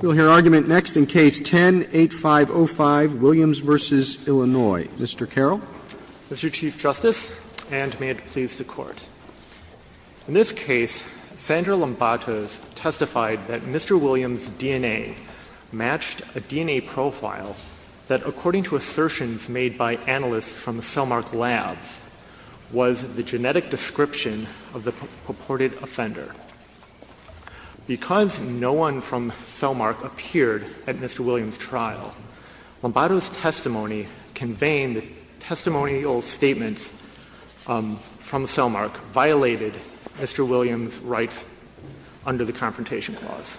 We'll hear argument next in Case 10-8505, Williams v. Illinois. Mr. Carroll. Mr. Chief Justice, and may it please the Court, in this case, Sandra Lombatos testified that Mr. Williams' DNA matched a DNA profile that, according to assertions made by analysts from Cellmark Labs, was the genetic description of the purported offender. Because no one from Cellmark appeared at Mr. Williams' trial, Lombatos' testimony conveyed that testimonial statements from Cellmark violated Mr. Williams' rights under the Confrontation Clause.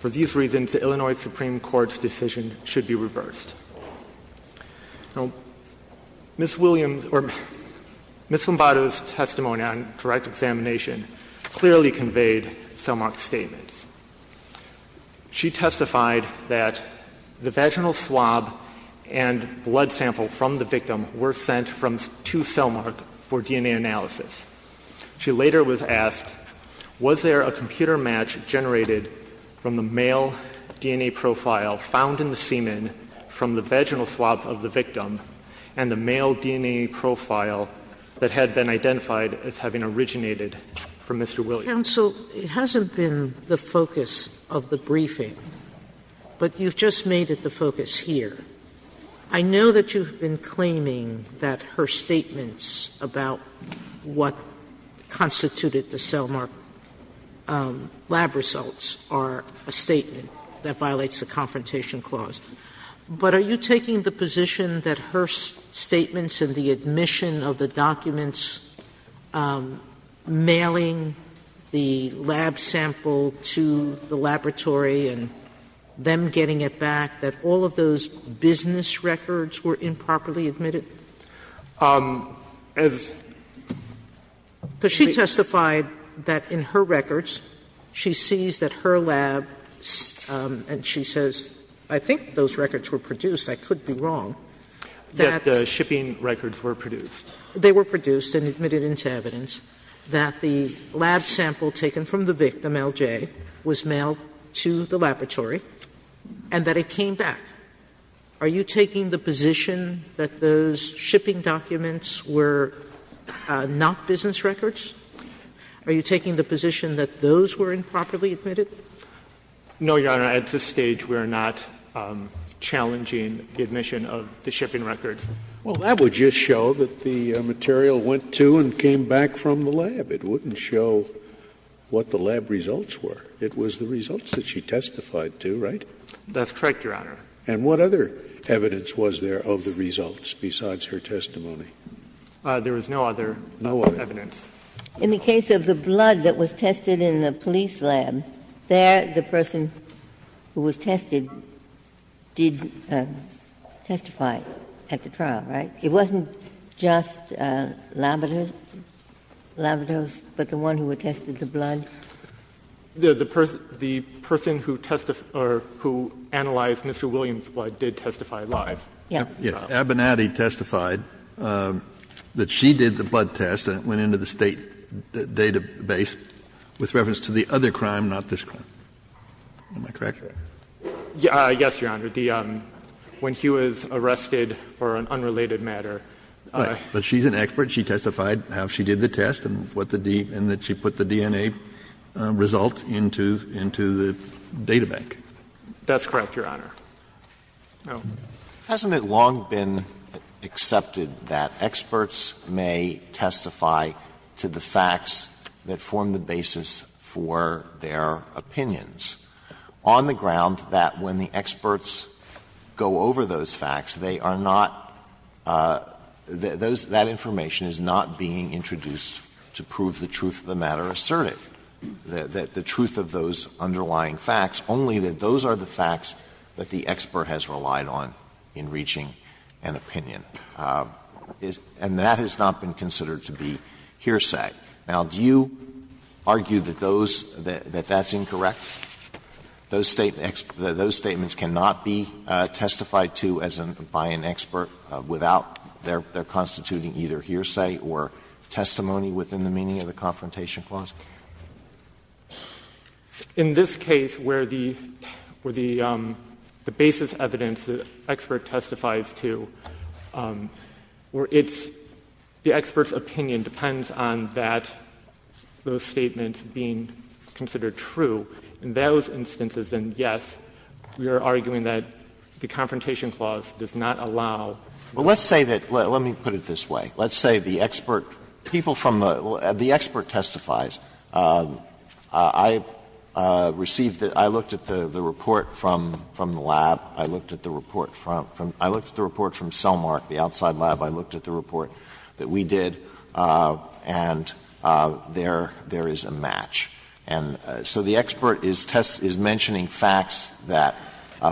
For these reasons, the Illinois Supreme Court's decision should be reversed. Now, Ms. Williams' — or Ms. Lombatos' testimony on direct examination clearly conveyed Cellmark's statements. She testified that the vaginal swab and blood sample from the victim were sent to Cellmark for DNA analysis. She later was asked, was there a computer match generated from the male DNA profile found in the semen from the vaginal swabs of the victim and the male DNA profile that had been identified as having originated from Mr. Williams? Sotomayor, it hasn't been the focus of the briefing, but you've just made it the focus here. I know that you've been claiming that her statements about what constituted the Cellmark lab results are a statement that violates the Confrontation Clause. But are you taking the position that her statements and the admission of the documents mailing the lab sample to the laboratory and them getting it back, that all of those business records were improperly admitted? Because she testified that in her records she sees that her lab, and she says, I think those records were produced, I could be wrong, that the shipping records were produced. They were produced and admitted into evidence that the lab sample taken from the victim, LJ, was mailed to the laboratory, and that it came back. Are you taking the position that those shipping documents were not business records? Are you taking the position that those were improperly admitted? No, Your Honor. At this stage, we are not challenging the admission of the shipping records. Well, that would just show that the material went to and came back from the lab. It wouldn't show what the lab results were. It was the results that she testified to, right? That's correct, Your Honor. And what other evidence was there of the results besides her testimony? There was no other evidence. In the case of the blood that was tested in the police lab, there the person who was tested did testify at the trial, right? It wasn't just Labrador's, but the one who had tested the blood? The person who analyzed Mr. Williams' blood did testify live. Yes. Yes. Abernathy testified that she did the blood test, and it went into the State database with reference to the other crime, not this crime. Am I correct? Yes, Your Honor. When he was arrested for an unrelated matter. But she's an expert. She testified how she did the test and what the D and that she put the DNA. And that's the only result into the data bank. That's correct, Your Honor. Hasn't it long been accepted that experts may testify to the facts that form the basis for their opinions, on the ground that when the experts go over those facts, they are not those that information is not being introduced to prove the truth of the matter and that they are assertive, that the truth of those underlying facts, only that those are the facts that the expert has relied on in reaching an opinion? And that has not been considered to be hearsay. Now, do you argue that those, that that's incorrect? Those statements cannot be testified to as an, by an expert without their constituting either hearsay or testimony within the meaning of the Confrontation Clause? In this case, where the basis evidence the expert testifies to, where it's, the expert's opinion depends on that, those statements being considered true, in those instances, then, yes, we are arguing that the Confrontation Clause does not allow. Alito, let's say that, let me put it this way. Let's say the expert, people from the, the expert testifies. I received, I looked at the report from the lab. I looked at the report from, I looked at the report from Cellmark, the outside lab, I looked at the report that we did, and there, there is a match. And so the expert is test, is mentioning facts that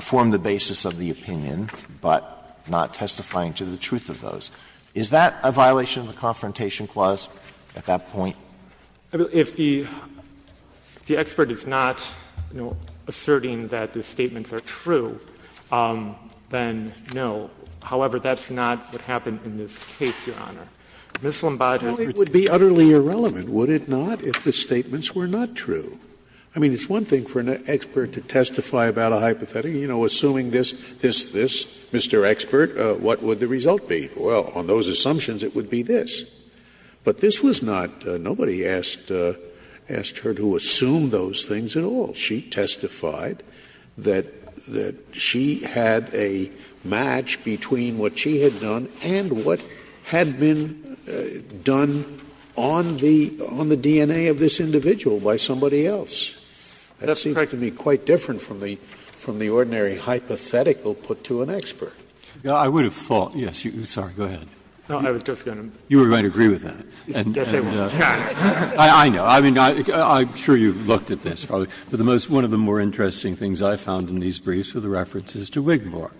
form the basis of the opinion, but not testifying to the truth of those. Is that a violation of the Confrontation Clause at that point? If the, if the expert is not, you know, asserting that the statements are true, then no. However, that's not what happened in this case, Your Honor. Ms. Lombardo's verdicts are true. Scalia would be utterly irrelevant, would it not, if the statements were not true? I mean, it's one thing for an expert to testify about a hypothetical, you know, assuming this, this, this, Mr. Expert, what would the result be? Well, on those assumptions, it would be this. But this was not, nobody asked, asked her to assume those things at all. She testified that, that she had a match between what she had done and what had been done on the, on the DNA of this individual by somebody else. That seems quite different from the, from the ordinary hypothetical put to an expert. Breyer, I would have thought, yes, you, sorry, go ahead. No, I was just going to. You were going to agree with that. Yes, I was. I know. I mean, I'm sure you've looked at this probably. But the most, one of the more interesting things I found in these briefs were the references to Wigmore.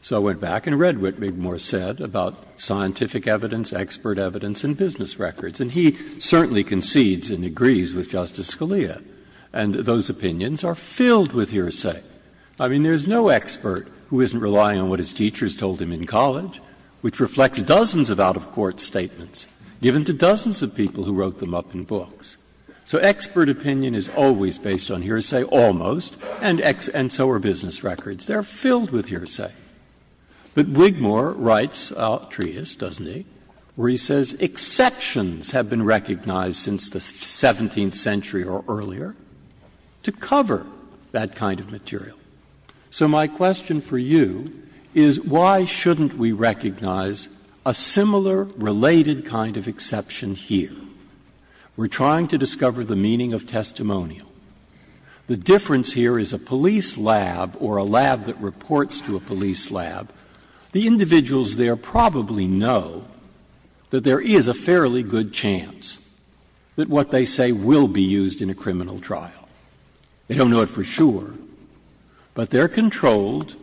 So I went back and read what Wigmore said about scientific evidence, expert evidence, and business records. And he certainly concedes and agrees with Justice Scalia. And those opinions are filled with hearsay. I mean, there's no expert who isn't relying on what his teachers told him in college, which reflects dozens of out-of-court statements given to dozens of people who wrote them up in books. So expert opinion is always based on hearsay, almost, and so are business records. They are filled with hearsay. But Wigmore writes a treatise, doesn't he, where he says exceptions have been recognized since the 17th century or earlier to cover that kind of material. So my question for you is why shouldn't we recognize a similar related kind of exception here? We're trying to discover the meaning of testimonial. The difference here is a police lab or a lab that reports to a police lab, the individuals there probably know that there is a fairly good chance. That what they say will be used in a criminal trial. They don't know it for sure, but they're controlled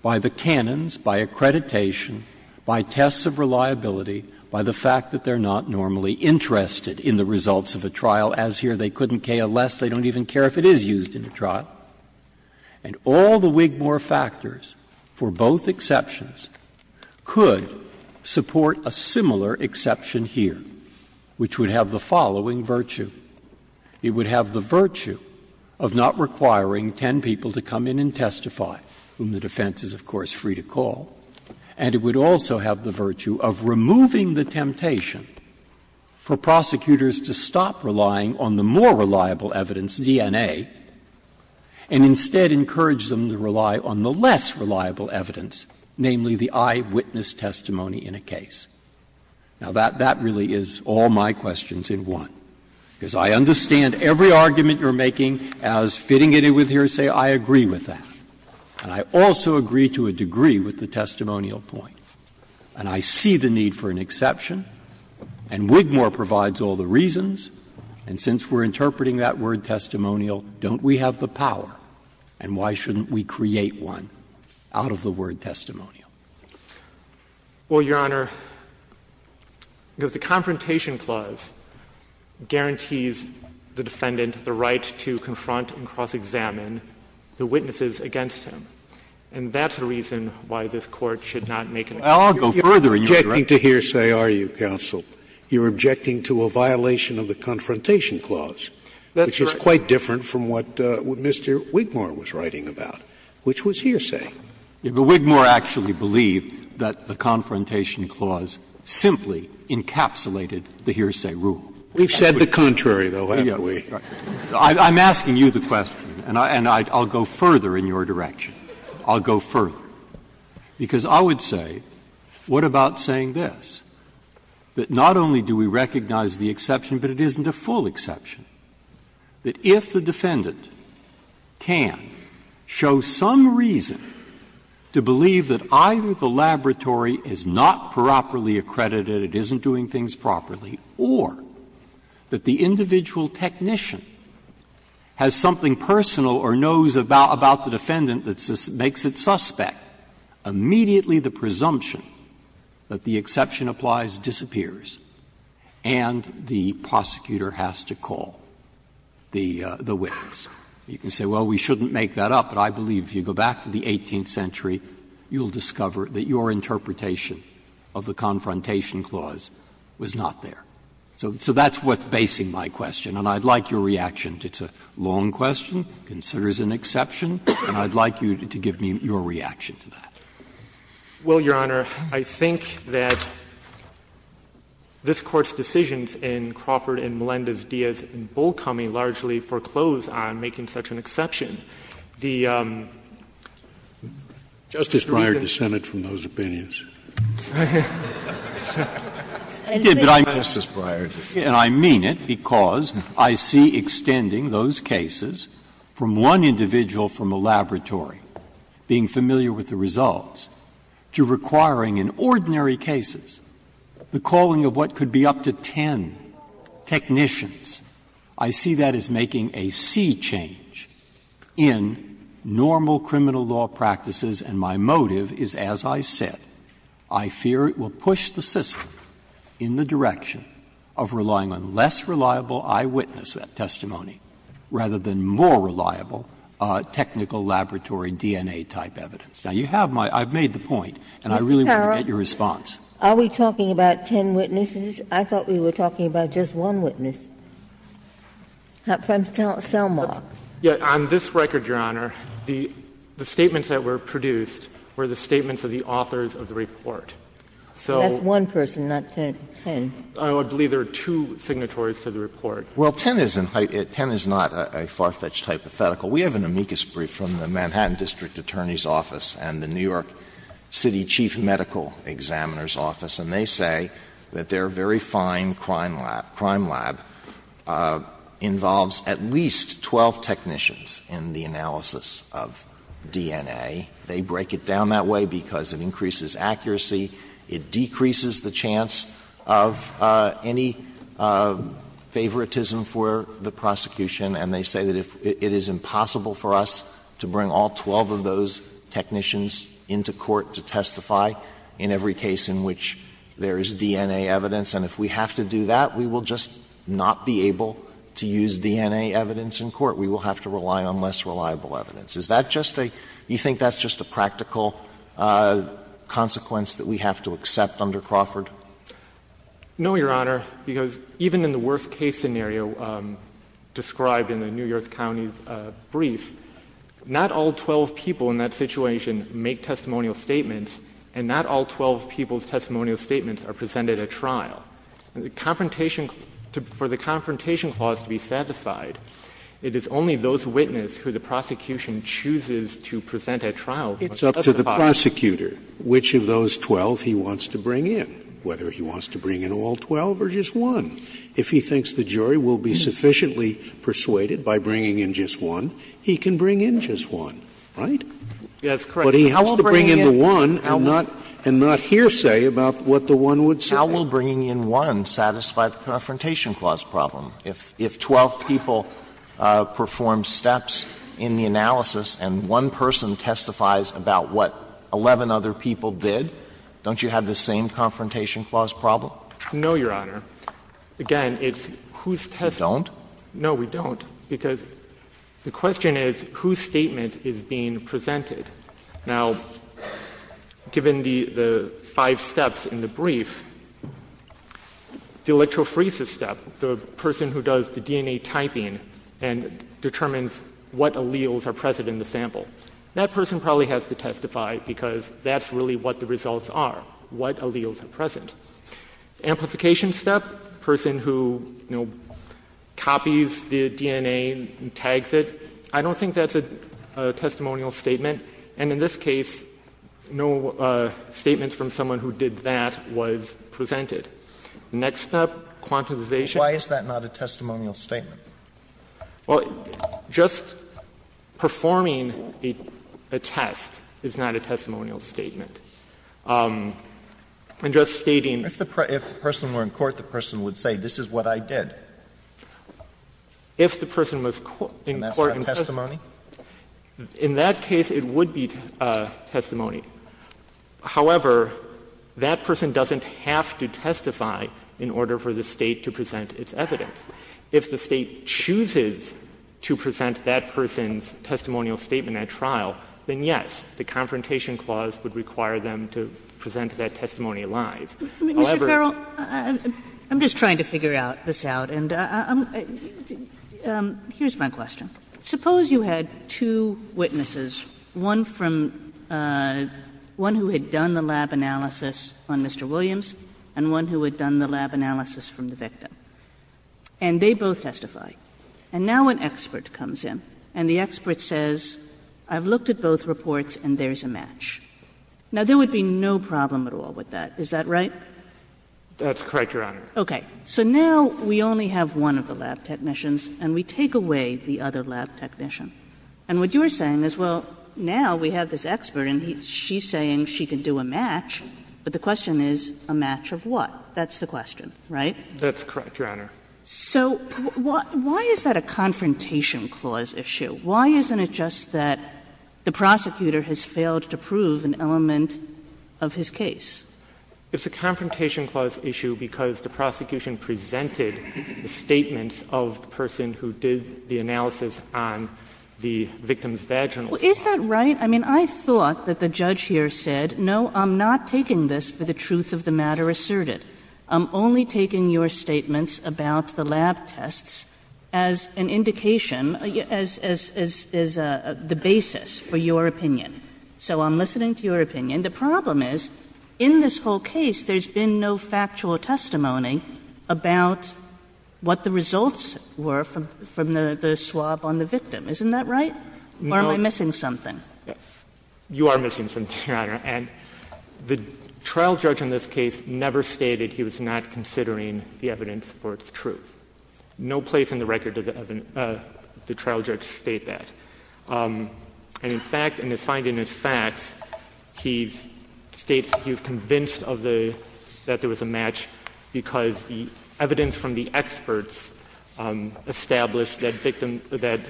by the canons, by accreditation, by tests of reliability, by the fact that they're not normally interested in the results of a trial. As here, they couldn't care less. They don't even care if it is used in a trial. And all the Wigmore factors for both exceptions could support a similar exception here, which would have the following virtue. It would have the virtue of not requiring ten people to come in and testify, whom the defense is, of course, free to call. And it would also have the virtue of removing the temptation for prosecutors to stop relying on the more reliable evidence, DNA, and instead encourage them to rely on the less reliable evidence, namely the eyewitness testimony in a case. Now, that really is all my questions in one, because I understand every argument you're making as fitting it with hearsay. I agree with that. And I also agree to a degree with the testimonial point. And I see the need for an exception, and Wigmore provides all the reasons. And since we're interpreting that word, testimonial, don't we have the power, and why shouldn't we create one out of the word testimonial? Well, Your Honor, because the Confrontation Clause guarantees the defendant the right to confront and cross-examine the witnesses against him, and that's the reason why this Court should not make an exception. Scalia, you're not objecting to hearsay, are you, counsel? You're objecting to a violation of the Confrontation Clause, which is quite different from what Mr. Wigmore was writing about, which was hearsay. But Wigmore actually believed that the Confrontation Clause simply encapsulated the hearsay rule. We've said the contrary, though, haven't we? I'm asking you the question, and I'll go further in your direction. I'll go further. Because I would say, what about saying this, that not only do we recognize the exception, but it isn't a full exception, that if the defendant can show some reason to believe that either the laboratory is not properly accredited, it isn't doing things properly, or that the individual technician has something personal or knows about the defendant that makes it suspect, immediately the presumption that the exception applies disappears, and the prosecutor has to call the witness? You can say, well, we shouldn't make that up, but I believe if you go back to the 18th century, you'll discover that your interpretation of the Confrontation Clause was not there. So that's what's basing my question, and I'd like your reaction. It's a long question, considers an exception, and I'd like you to give me your reaction to that. Well, Your Honor, I think that this Court's decisions in Crawford and Melendez-Diaz have been bull-cumming, largely foreclosed on making such an exception. have the capacity to do that. Justice Breyer dissented from those opinions. He did, but I mean it, Justice Breyer, and I mean it because I see extending those cases from one individual from a laboratory, being familiar with the results, to requiring in ordinary cases the calling of what could be up to ten technicians. I see that as making a sea change in normal criminal law practices, and my motive is, as I said, I fear it will push the system in the direction of relying on less reliable eyewitness testimony rather than more reliable technical laboratory DNA-type evidence. Now, you have my — I've made the point, and I really want to get your response. Ms. Carroll, are we talking about ten witnesses? I thought we were talking about just one witness from Selmar. Yes. On this record, Your Honor, the statements that were produced were the statements of the authors of the report. So — That's one person, not ten. I believe there are two signatories to the report. Well, ten is not a far-fetched hypothetical. We have an amicus brief from the Manhattan District Attorney's Office and the New York City Chief Medical Examiner's Office, and they say that their very fine crime lab involves at least 12 technicians in the analysis of DNA. They break it down that way because it increases accuracy, it decreases the chance of any favoritism for the prosecution, and they say that if it is impossible for us to bring all 12 of those technicians into court to testify in every case in which there is DNA evidence, and if we have to do that, we will just not be able to use DNA evidence in court. We will have to rely on less reliable evidence. Is that just a — do you think that's just a practical consequence that we have to accept under Crawford? No, Your Honor, because even in the worst-case scenario described in the New York County District Attorney's Office brief, not all 12 people in that situation make testimonial statements, and not all 12 people's testimonial statements are presented at trial. For the confrontation clause to be satisfied, it is only those witnesses who the prosecution chooses to present at trial who must testify. It's up to the prosecutor which of those 12 he wants to bring in, whether he wants to bring in all 12 or just one. If he thinks the jury will be sufficiently persuaded by bringing in just one, he can bring in just one, right? Yes, correct. But he has to bring in the one and not hearsay about what the one would say. How will bringing in one satisfy the confrontation clause problem? If 12 people perform steps in the analysis and one person testifies about what 11 other people did, don't you have the same confrontation clause problem? No, Your Honor. Again, it's whose testimony — You don't? No, we don't, because the question is whose statement is being presented. Now, given the five steps in the brief, the electrophoresis step, the person who does the DNA typing and determines what alleles are present in the sample, that person probably has to testify because that's really what the results are, what alleles are present. The amplification step, the person who, you know, copies the DNA and tags it, I don't think that's a testimonial statement, and in this case, no statement from someone who did that was presented. The next step, quantification. Why is that not a testimonial statement? Well, just performing a test is not a testimonial statement. And just stating — If the person were in court, the person would say, this is what I did. If the person was in court — And that's not testimony? In that case, it would be testimony. However, that person doesn't have to testify in order for the State to present its evidence. If the State chooses to present that person's testimonial statement at trial, then yes, the Confrontation Clause would require them to present that testimony live. However— Kagan, I'm just trying to figure this out, and I'm — here's my question. Suppose you had two witnesses, one from — one who had done the lab analysis on Mr. Williams and one who had done the lab analysis from the victim, and they both testify. And now an expert comes in, and the expert says, I've looked at both reports and there's a match. Now, there would be no problem at all with that. Is that right? That's correct, Your Honor. Okay. So now we only have one of the lab technicians, and we take away the other lab technician. And what you're saying is, well, now we have this expert and she's saying she can do a match, but the question is a match of what? That's the question, right? That's correct, Your Honor. So why is that a confrontation clause issue? Why isn't it just that the prosecutor has failed to prove an element of his case? It's a confrontation clause issue because the prosecution presented the statements of the person who did the analysis on the victim's vaginal spot. Well, is that right? I mean, I thought that the judge here said, no, I'm not taking this for the truth of the matter asserted. I'm only taking your statements about the lab tests as an indication, as the basis for your opinion. So I'm listening to your opinion. The problem is, in this whole case, there's been no factual testimony about what the results were from the swab on the victim. Isn't that right? You are missing something, Your Honor. And the trial judge in this case never stated he was not considering the evidence for its truth. No place in the record does the trial judge state that. And in fact, in his finding, in his facts, he states he was convinced of the — that there was a match because the evidence from the experts established that victim — that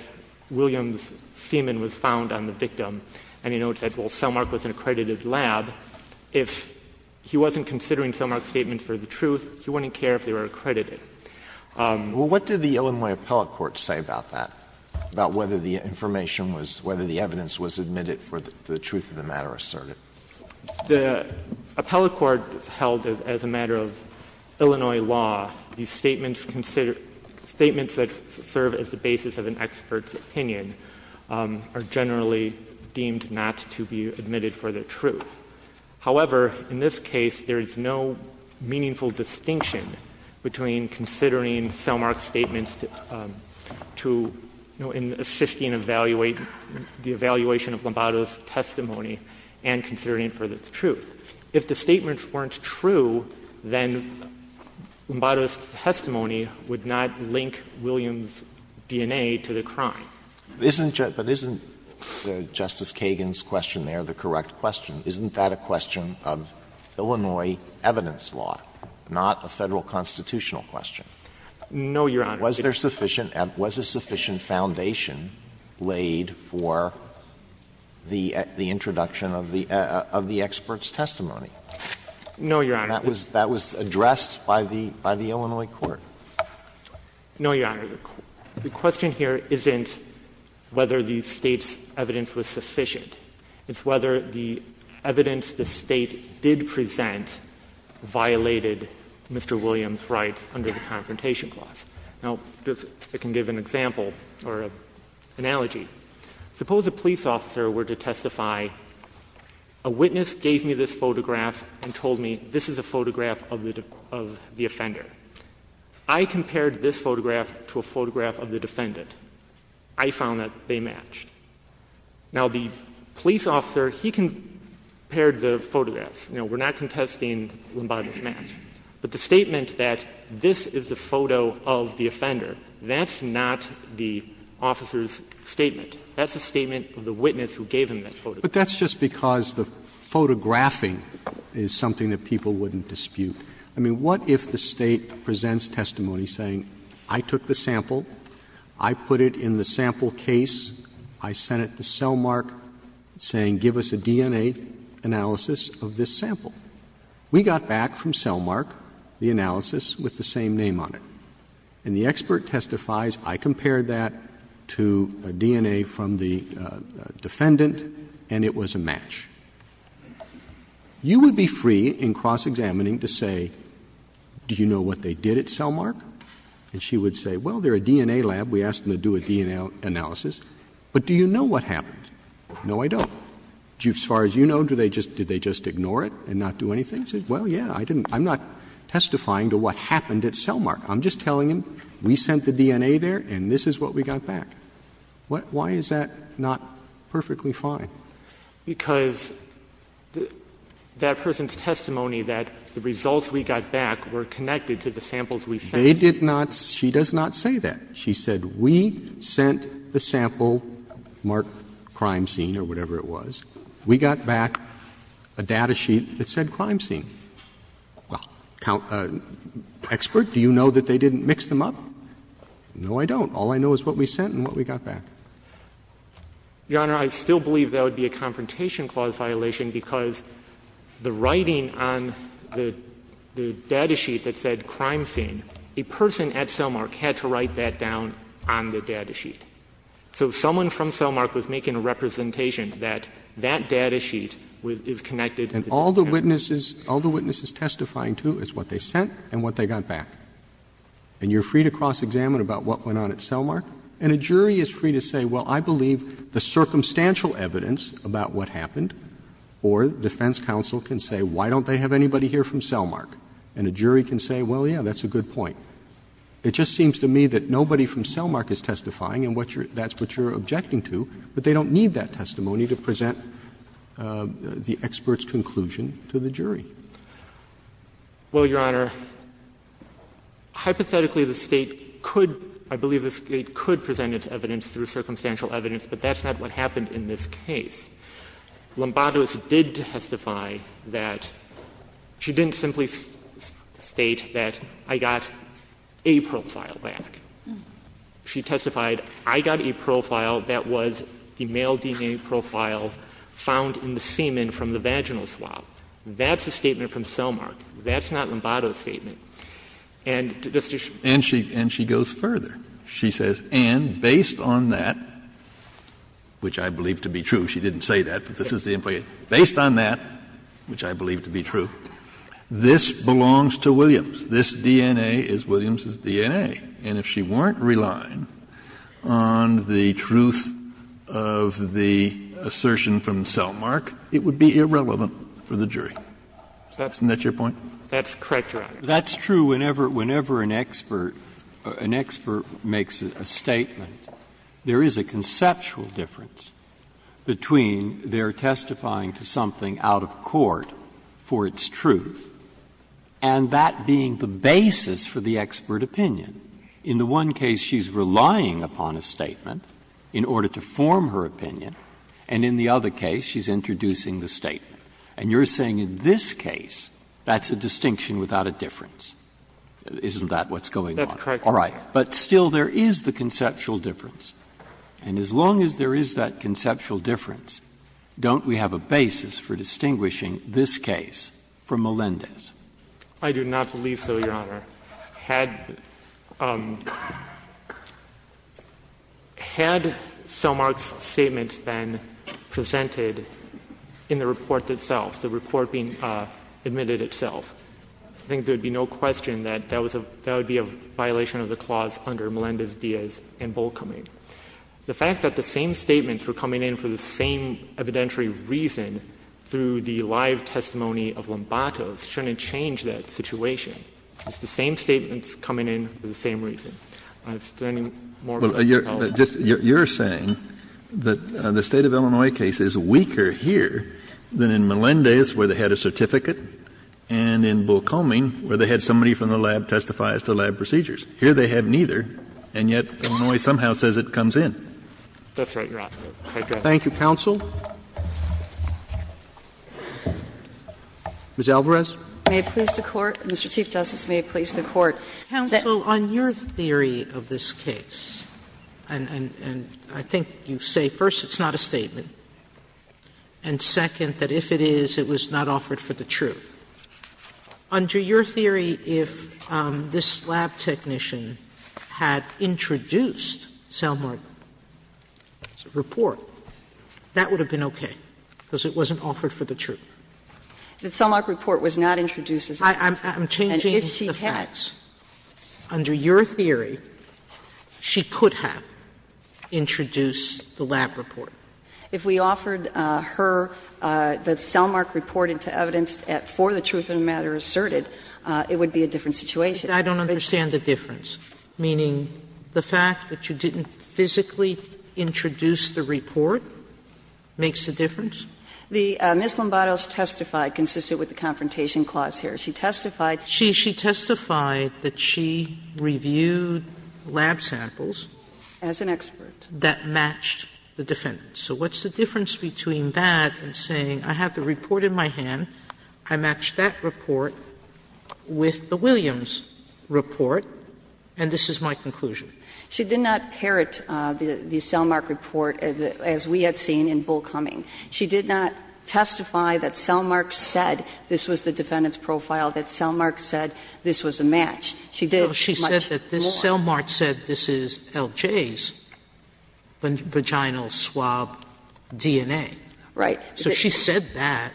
Williams' semen was found on the victim. And he noted that, well, Cellmark was an accredited lab. If he wasn't considering Cellmark's statement for the truth, he wouldn't care if they were accredited. Well, what did the Illinois appellate court say about that, about whether the information was — whether the evidence was admitted for the truth of the matter asserted? The appellate court held that, as a matter of Illinois law, these statements that serve as the basis of an expert's opinion are generally deemed not to be admitted for the truth. However, in this case, there is no meaningful distinction between considering Cellmark's statements to — you know, in assisting the evaluation of Lombardo's testimony and considering it for the truth. If the statements weren't true, then Lombardo's testimony would not link Williams' DNA to the crime. Alito But isn't Justice Kagan's question there the correct question? Isn't that a question of Illinois evidence law, not a Federal constitutional question? No, Your Honor. Was there sufficient — was a sufficient foundation laid for the introduction of the expert's testimony? No, Your Honor. That was addressed by the Illinois court. No, Your Honor. The question here isn't whether the State's evidence was sufficient. It's whether the evidence the State did present violated Mr. Williams' rights under the Confrontation Clause. Now, I can give an example or an analogy. Suppose a police officer were to testify, a witness gave me this photograph and told me this is a photograph of the — of the offender. I compared this photograph to a photograph of the defendant. I found that they matched. Now, the police officer, he compared the photographs. You know, we're not contesting Lombardo's match. But the statement that this is a photo of the offender, that's not the officer's statement. That's the statement of the witness who gave him that photograph. But that's just because the photographing is something that people wouldn't dispute. I mean, what if the State presents testimony saying I took the sample, I put it in the sample case, I sent it to Cellmark saying give us a DNA analysis of this sample. We got back from Cellmark the analysis with the same name on it. And the expert testifies I compared that to a DNA from the defendant and it was a match. You would be free in cross-examining to say do you know what they did at Cellmark? And she would say, well, they're a DNA lab. We asked them to do a DNA analysis. But do you know what happened? No, I don't. As far as you know, do they just — did they just ignore it and not do anything? She said, well, yeah, I didn't — I'm not testifying to what happened at Cellmark. I'm just telling them we sent the DNA there and this is what we got back. Why is that not perfectly fine? Because that person's testimony that the results we got back were connected to the samples we sent. They did not — she does not say that. She said we sent the sample marked crime scene or whatever it was. We got back a data sheet that said crime scene. Well, expert, do you know that they didn't mix them up? No, I don't. All I know is what we sent and what we got back. Your Honor, I still believe that would be a Confrontation Clause violation because the writing on the data sheet that said crime scene, a person at Cellmark had to write that down on the data sheet. So someone from Cellmark was making a representation that that data sheet is connected and all the witnesses — all the witnesses testifying to is what they sent and what they got back. And you're free to cross-examine about what went on at Cellmark. And a jury is free to say, well, I believe the circumstantial evidence about what happened or defense counsel can say, why don't they have anybody here from Cellmark? And a jury can say, well, yeah, that's a good point. It just seems to me that nobody from Cellmark is testifying and what you're — that's what you're objecting to, but they don't need that testimony to present the experts conclusion to the jury. Well, Your Honor, hypothetically, the State could — I believe the State could present its evidence through circumstantial evidence, but that's not what happened in this case. Lombardo did testify that — she didn't simply state that I got a profile back. She testified I got a profile that was the male DNA profile found in the semen from the vaginal swab. That's a statement from Cellmark. That's not Lombardo's statement. And just to show you. And she — and she goes further. She says, and based on that, which I believe to be true, she didn't say that, but this is the implication. Based on that, which I believe to be true, this belongs to Williams. This DNA is Williams's DNA. And if she weren't relying on the truth of the assertion from Cellmark, it would be irrelevant for the jury. Isn't that your point? That's correct, Your Honor. That's true whenever — whenever an expert — an expert makes a statement. There is a conceptual difference between their testifying to something out of court for its truth and that being the basis for the expert opinion. In the one case, she's relying upon a statement in order to form her opinion, and in the other case, she's introducing the statement. And you're saying in this case, that's a distinction without a difference. Isn't that what's going on? That's correct, Your Honor. All right. But still, there is the conceptual difference. And as long as there is that conceptual difference, don't we have a basis for distinguishing this case from Melendez? I do not believe so, Your Honor. Had — had Cellmark's statements been presented in the report itself, the report being admitted itself, I think there would be no question that that would be a violation of the clause under Melendez-Diaz and Bolkoming. The fact that the same statements were coming in for the same evidentiary reason through the live testimony of Lombato shouldn't change that situation. It's the same statements coming in for the same reason. Is there any more you can tell us? You're saying that the State of Illinois case is weaker here than in Melendez, where they had a certificate, and in Bolkoming, where they had somebody from the lab testify as to lab procedures. Here, they have neither, and yet Illinois somehow says it comes in. That's right, Your Honor. That's correct. Thank you, counsel. Ms. Alvarez. May it please the Court? Mr. Chief Justice, may it please the Court? Counsel, on your theory of this case, and — and I think you say, first, it's not a statement, and second, that if it is, it was not offered for the truth. Under your theory, if this lab technician had introduced Cellmark's report, that would have been okay, because it wasn't offered for the truth. The Cellmark report was not introduced as evidence. I'm changing the facts. And if she had — Under your theory, she could have introduced the lab report. If we offered her the Cellmark report into evidence for the truth of the matter asserted, it would be a different situation. I don't understand the difference, meaning the fact that you didn't physically introduce the report makes a difference? The — Ms. Lombardo's testify consisted with the confrontation clause here. She testified — She — she testified that she reviewed lab samples. As an expert. That matched the defendant. So what's the difference between that and saying, I have the report in my hand, I match that report with the Williams report, and this is my conclusion? She did not parrot the Cellmark report as we had seen in Bull Cumming. She did not testify that Cellmark said this was the defendant's profile, that Cellmark said this was a match. She did much more. She said that Cellmark said this is LJ's vaginal swab DNA. Right. So she said that.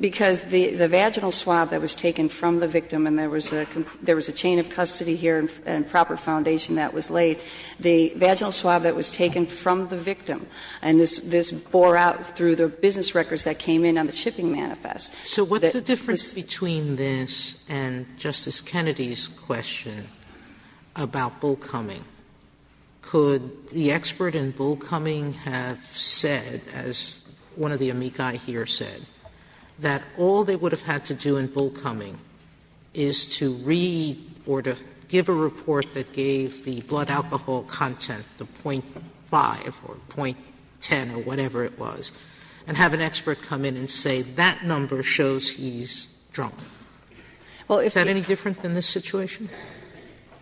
Because the vaginal swab that was taken from the victim, and there was a chain of custody here and proper foundation that was laid, the vaginal swab that was taken from the victim, and this bore out through the business records that came in on the shipping manifest. So what's the difference between this and Justice Kennedy's question about Bull Cumming? Could the expert in Bull Cumming have said, as one of the amici here said, that all they would have had to do in Bull Cumming is to read or to give a report that gave the blood alcohol content, the .5 or .10 or whatever it was, and have an expert come in and say that number shows he's drunk? Is that any different than this situation?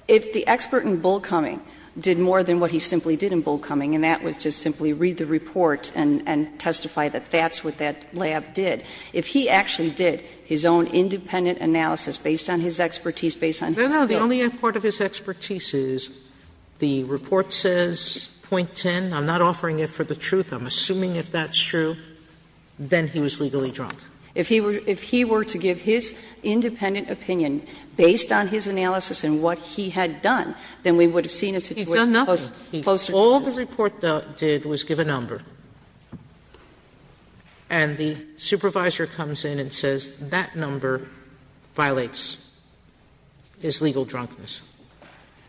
If the expert in Bull Cumming did more than what he simply did in Bull Cumming, and that was just simply read the report and testify that that's what that lab did, if he actually did his own independent analysis based on his expertise, based on his Sotomayor No, no, the only part of his expertise is the report says .10. I'm not offering it for the truth. I'm assuming if that's true, then he was legally drunk. If he were to give his independent opinion based on his analysis and what he had done, then we would have seen a situation closer to this. Sotomayor He's done nothing. All the report did was give a number. And the supervisor comes in and says that number violates his legal drunkenness.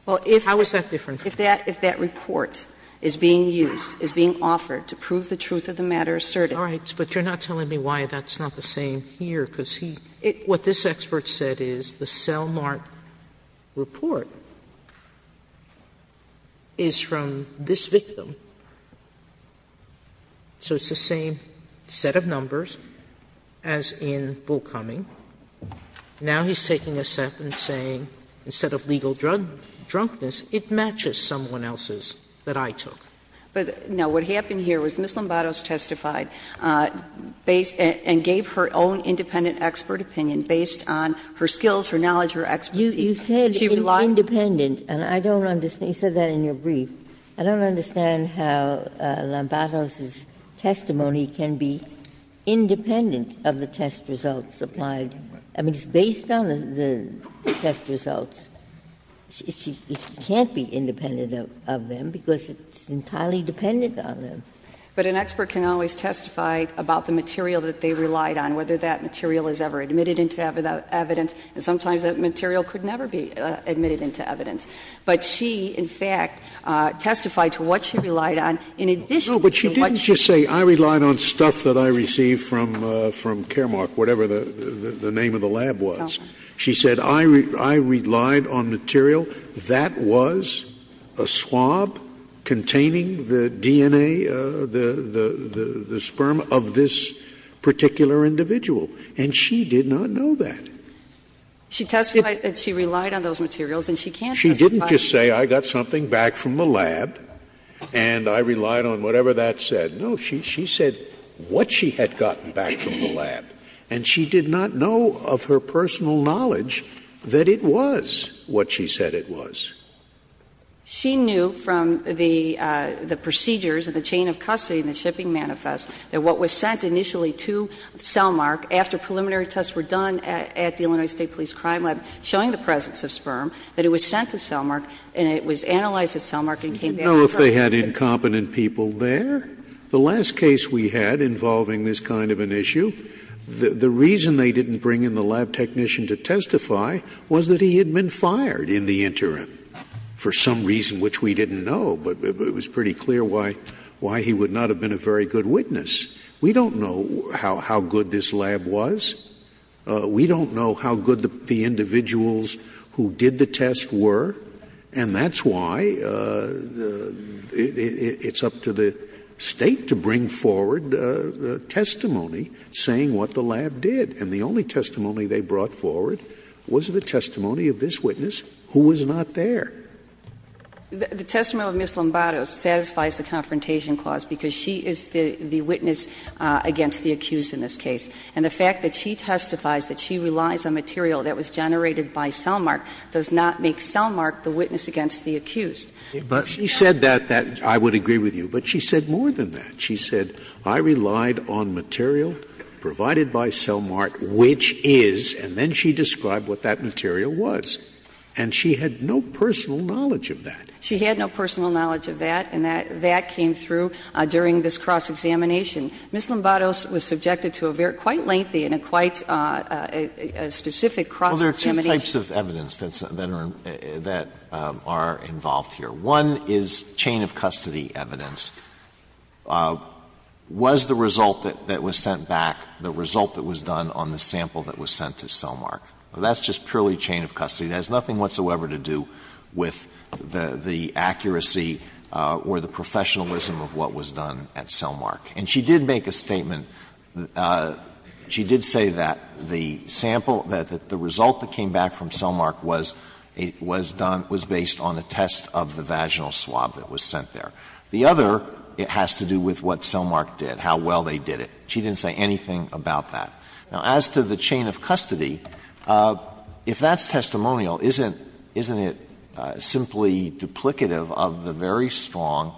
How is that different from this? If that report is being used, is being offered to prove the truth of the matter asserted. All right, but you're not telling me why that's not the same here, because he – what this expert said is the cell mark report is from this victim. Sotomayor So it's the same set of numbers as in Bull Cumming. Now he's taking a step and saying instead of legal drunkenness, it matches someone else's that I took. But, no, what happened here was Ms. Lombardos testified based – and gave her own independent expert opinion based on her skills, her knowledge, her expertise. She relied You said independent, and I don't understand. You said that in your brief. I don't understand how Lombardos' testimony can be independent of the test results applied. I mean, it's based on the test results. It can't be independent of them, because it's entirely dependent on them. But an expert can always testify about the material that they relied on, whether that material is ever admitted into evidence, and sometimes that material could never be admitted into evidence. But she, in fact, testified to what she relied on in addition to what she relied on. Scalia No, but she didn't just say, I relied on stuff that I received from Caremark, whatever the name of the lab was. She said, I relied on material that was a swab containing the DNA, the sperm, of this particular individual, and she did not know that. She testified that she relied on those materials, and she can't testify to that. Scalia She didn't just say, I got something back from the lab, and I relied on whatever that said. No, she said what she had gotten back from the lab, and she did not know of her personal knowledge that it was what she said it was. She knew from the procedures and the chain of custody and the shipping manifest that what was sent initially to Cellmark, after preliminary tests were done at the Illinois State Police Crime Lab showing the presence of sperm, that it was sent to Cellmark, and it was analyzed at Cellmark and came back. Scalia No, if they had incompetent people there, the last case we had involving this kind of an issue, the reason they didn't bring in the lab technician to testify was that he had been fired in the interim for some reason which we didn't know, but it was pretty clear why he would not have been a very good witness. We don't know how good this lab was. We don't know how good the individuals who did the test were, and that's why it's up to the State to bring forward testimony saying what the lab did. And the only testimony they brought forward was the testimony of this witness, who was not there. The testimony of Ms. Lombardo satisfies the Confrontation Clause because she is the witness against the accused in this case. And the fact that she testifies that she relies on material that was generated by Cellmark does not make Cellmark the witness against the accused. But she said that, I would agree with you, but she said more than that. She said, I relied on material provided by Cellmark, which is, and then she described what that material was. And she had no personal knowledge of that. She had no personal knowledge of that, and that came through during this cross-examination. Ms. Lombardo was subjected to a very quite lengthy and a quite specific cross-examination. Well, there are two types of evidence that are involved here. One is chain of custody evidence. Was the result that was sent back the result that was done on the sample that was sent to Cellmark? Well, that's just purely chain of custody. It has nothing whatsoever to do with the accuracy or the professionalism of what was done at Cellmark. And she did make a statement. She did say that the sample, that the result that came back from Cellmark was done was based on a test of the vaginal swab that was sent there. The other has to do with what Cellmark did, how well they did it. She didn't say anything about that. Now, as to the chain of custody, if that's testimonial, isn't it simply duplicative of the very strong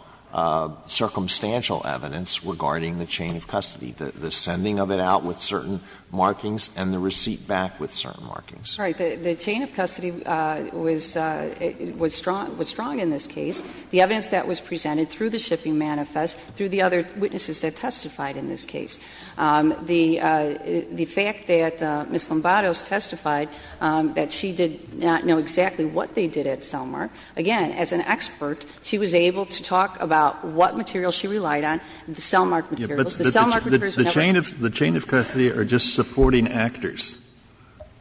circumstantial evidence regarding the chain of custody, the sending of it out with certain markings and the receipt back with certain markings? Right. The chain of custody was strong in this case. The evidence that was presented through the shipping manifest, through the other witnesses that testified in this case. The fact that Ms. Lombados testified that she did not know exactly what they did at Cellmark, again, as an expert, she was able to talk about what material she relied on, the Cellmark materials. The Cellmark materials were never tested. The chain of custody are just supporting actors.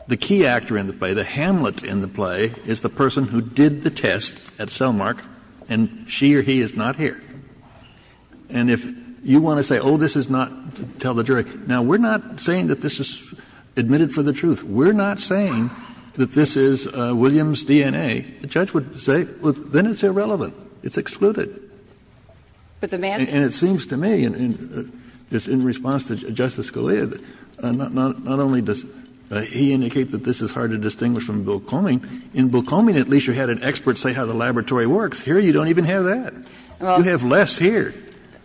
The key actor in the play, the hamlet in the play, is the person who did the test at Cellmark, and she or he is not here. And if you want to say, oh, this is not to tell the jury, now, we're not saying that this is admitted for the truth. We're not saying that this is Williams' DNA. The judge would say, well, then it's irrelevant. It's excluded. And it seems to me, in response to Justice Scalia, not only does he indicate that this is hard to distinguish from Bill Comey, in Bill Comey, at least you had an expert say how the laboratory works. Here you don't even have that. You have less here,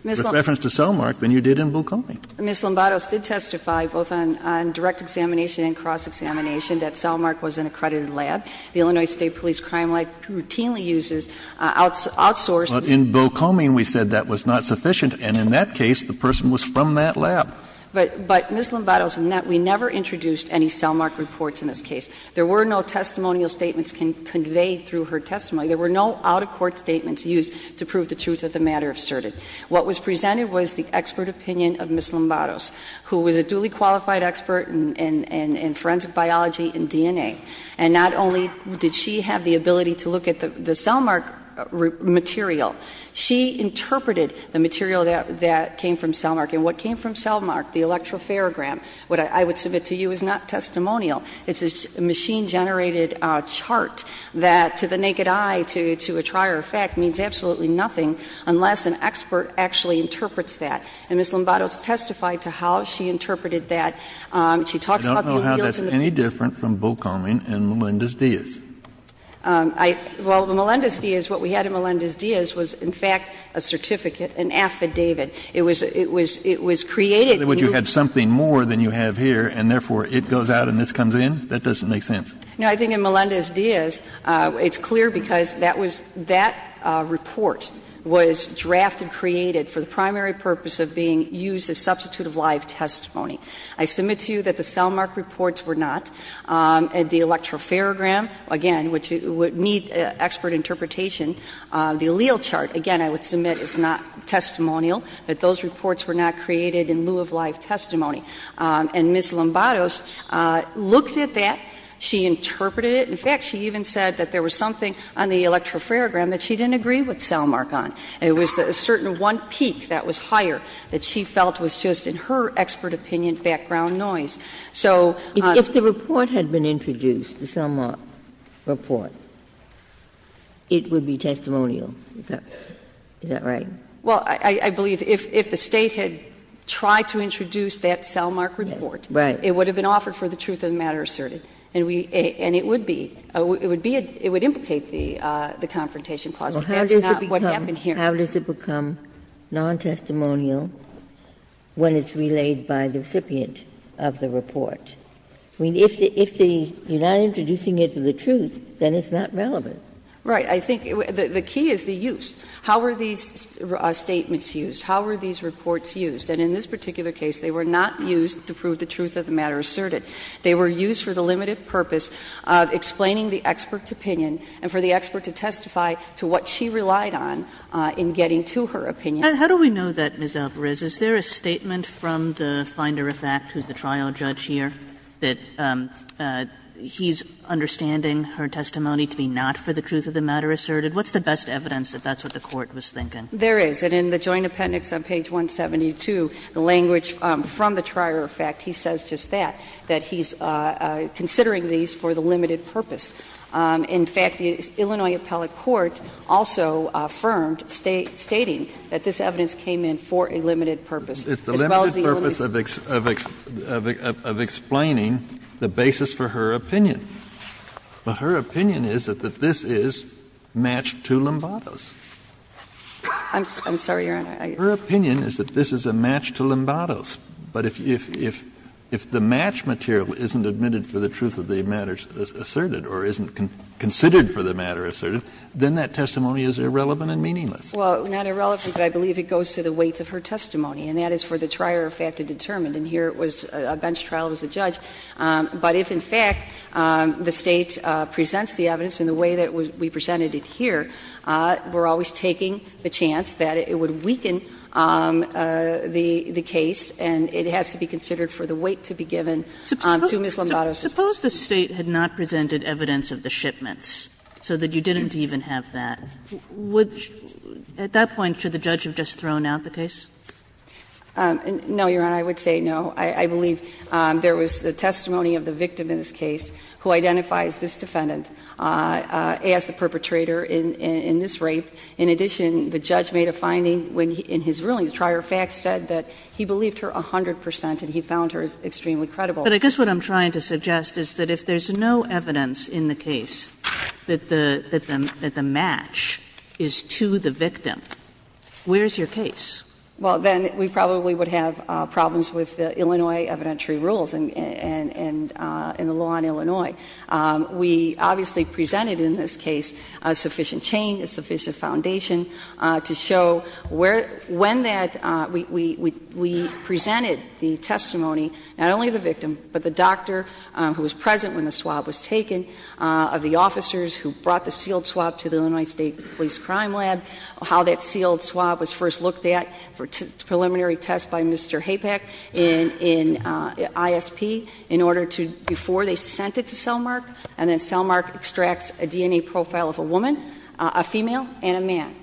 with reference to Cellmark, than you did in Bill Comey. Ms. Lombardo did testify, both on direct examination and cross-examination, that Cellmark was an accredited lab. The Illinois State Police crime lab routinely uses outsourced. But in Bill Comey, we said that was not sufficient, and in that case, the person was from that lab. But, Ms. Lombardo, we never introduced any Cellmark reports in this case. There were no testimonial statements conveyed through her testimony. There were no out-of-court statements used to prove the truth of the matter asserted. What was presented was the expert opinion of Ms. Lombardo, who was a duly qualified expert in forensic biology and DNA. And not only did she have the ability to look at the Cellmark material, she interpreted the material that came from Cellmark. And what came from Cellmark, the electropharogram, what I would submit to you is not testimonial. It's a machine-generated chart that, to the naked eye, to a trier of fact, means absolutely nothing unless an expert actually interprets that. And Ms. Lombardo has testified to how she interpreted that. She talks about the real to the fake. Kennedy, I don't know how that's any different from Bill Comey and Melendez-Diaz. Well, the Melendez-Diaz, what we had in Melendez-Diaz was, in fact, a certificate, an affidavit. It was created in your case. Ms. O'Brien, that doesn't make sense. No, I think in Melendez-Diaz, it's clear because that was — that report was drafted, created for the primary purpose of being used as a substitute of live testimony. I submit to you that the Cellmark reports were not, and the electropharogram, again, which would need expert interpretation. The allele chart, again, I would submit is not testimonial, that those reports were not created in lieu of live testimony. And Ms. Lombardo looked at that. She interpreted it. In fact, she even said that there was something on the electropharogram that she didn't agree with Cellmark on. It was a certain one peak that was higher that she felt was just, in her expert opinion, background noise. So the report had been introduced, the Cellmark report, it would be testimonial. Is that right? Well, I believe if the State had tried to introduce that Cellmark report, it would have been offered for the truth of the matter asserted. And it would be — it would implicate the Confrontation Clause, but that's not what happened here. How does it become non-testimonial when it's relayed by the recipient of the report? I mean, if you're not introducing it to the truth, then it's not relevant. Right. I think the key is the use. How were these statements used? How were these reports used? And in this particular case, they were not used to prove the truth of the matter asserted. They were used for the limited purpose of explaining the expert's opinion and for the expert to testify to what she relied on in getting to her opinion. Kagan. Kagan How do we know that, Ms. Alvarez? Is there a statement from the finder-of-fact who's the trial judge here that he's understanding her testimony to be not for the truth of the matter asserted? What's the best evidence that that's what the Court was thinking? There is. And in the joint appendix on page 172, the language from the trier-of-fact, he says just that, that he's considering these for the limited purpose. In fact, the Illinois appellate court also affirmed, stating that this evidence came in for a limited purpose, as well as the illimited purpose of explaining the basis for her opinion. But her opinion is that this is matched to Lombardo's. I'm sorry, Your Honor. Her opinion is that this is a match to Lombardo's. But if the match material isn't admitted for the truth of the matter asserted or isn't considered for the matter asserted, then that testimony is irrelevant and meaningless. Well, not irrelevant, but I believe it goes to the weight of her testimony, and that is for the trier-of-fact to determine. And here it was a bench trial. It was the judge. But if, in fact, the State presents the evidence in the way that we presented it here, we're always taking the chance that it would weaken the case, and it has to be considered for the weight to be given to Ms. Lombardo's testimony. Kagan, suppose the State had not presented evidence of the shipments, so that you didn't even have that. Would you at that point, should the judge have just thrown out the case? No, Your Honor, I would say no. I believe there was the testimony of the victim in this case who identifies this defendant as the perpetrator in this rape. In addition, the judge made a finding when, in his ruling, the trier-of-fact said that he believed her 100 percent and he found her extremely credible. But I guess what I'm trying to suggest is that if there's no evidence in the case that the match is to the victim, where's your case? Well, then we probably would have problems with the Illinois evidentiary rules and the law in Illinois. We obviously presented in this case sufficient change, a sufficient foundation to show where, when that, we presented the testimony, not only of the victim, but the doctor who was present when the swab was taken, of the officers who brought the sealed swab to the Illinois State Police Crime Lab, how that sealed swab was first looked at for preliminary test by Mr. Hapak in ISP in order to, before they sent it to Selmark, and then Selmark extracts a DNA profile of a woman, a female, and a man.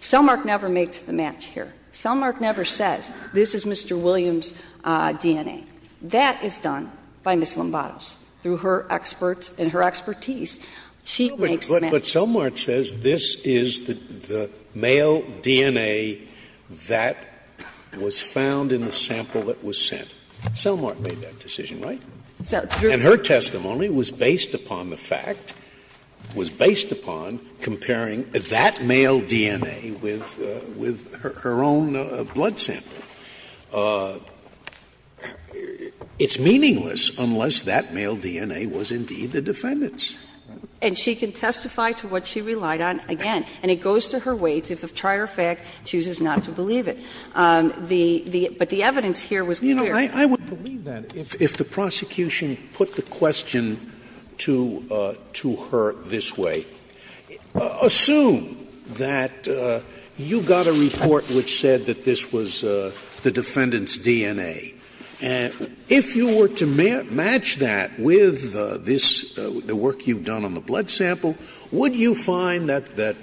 Selmark never makes the match here. Selmark never says, this is Mr. Williams' DNA. That is done by Ms. Lombatos. Through her expert and her expertise, she makes the match. Scalia But Selmark says this is the male DNA that was found in the sample that was sent. Selmark made that decision, right? And her testimony was based upon the fact, was based upon comparing that male DNA with her own blood sample. It's meaningless unless that male DNA was indeed the defendant's. And she can testify to what she relied on again. And it goes to her weight if the prior fact chooses not to believe it. The the, but the evidence here was clear. I wouldn't believe that if the prosecution put the question to her this way. Assume that you got a report which said that this was the defendant's DNA. If you were to match that with this, the work you've done on the blood sample, would you find that,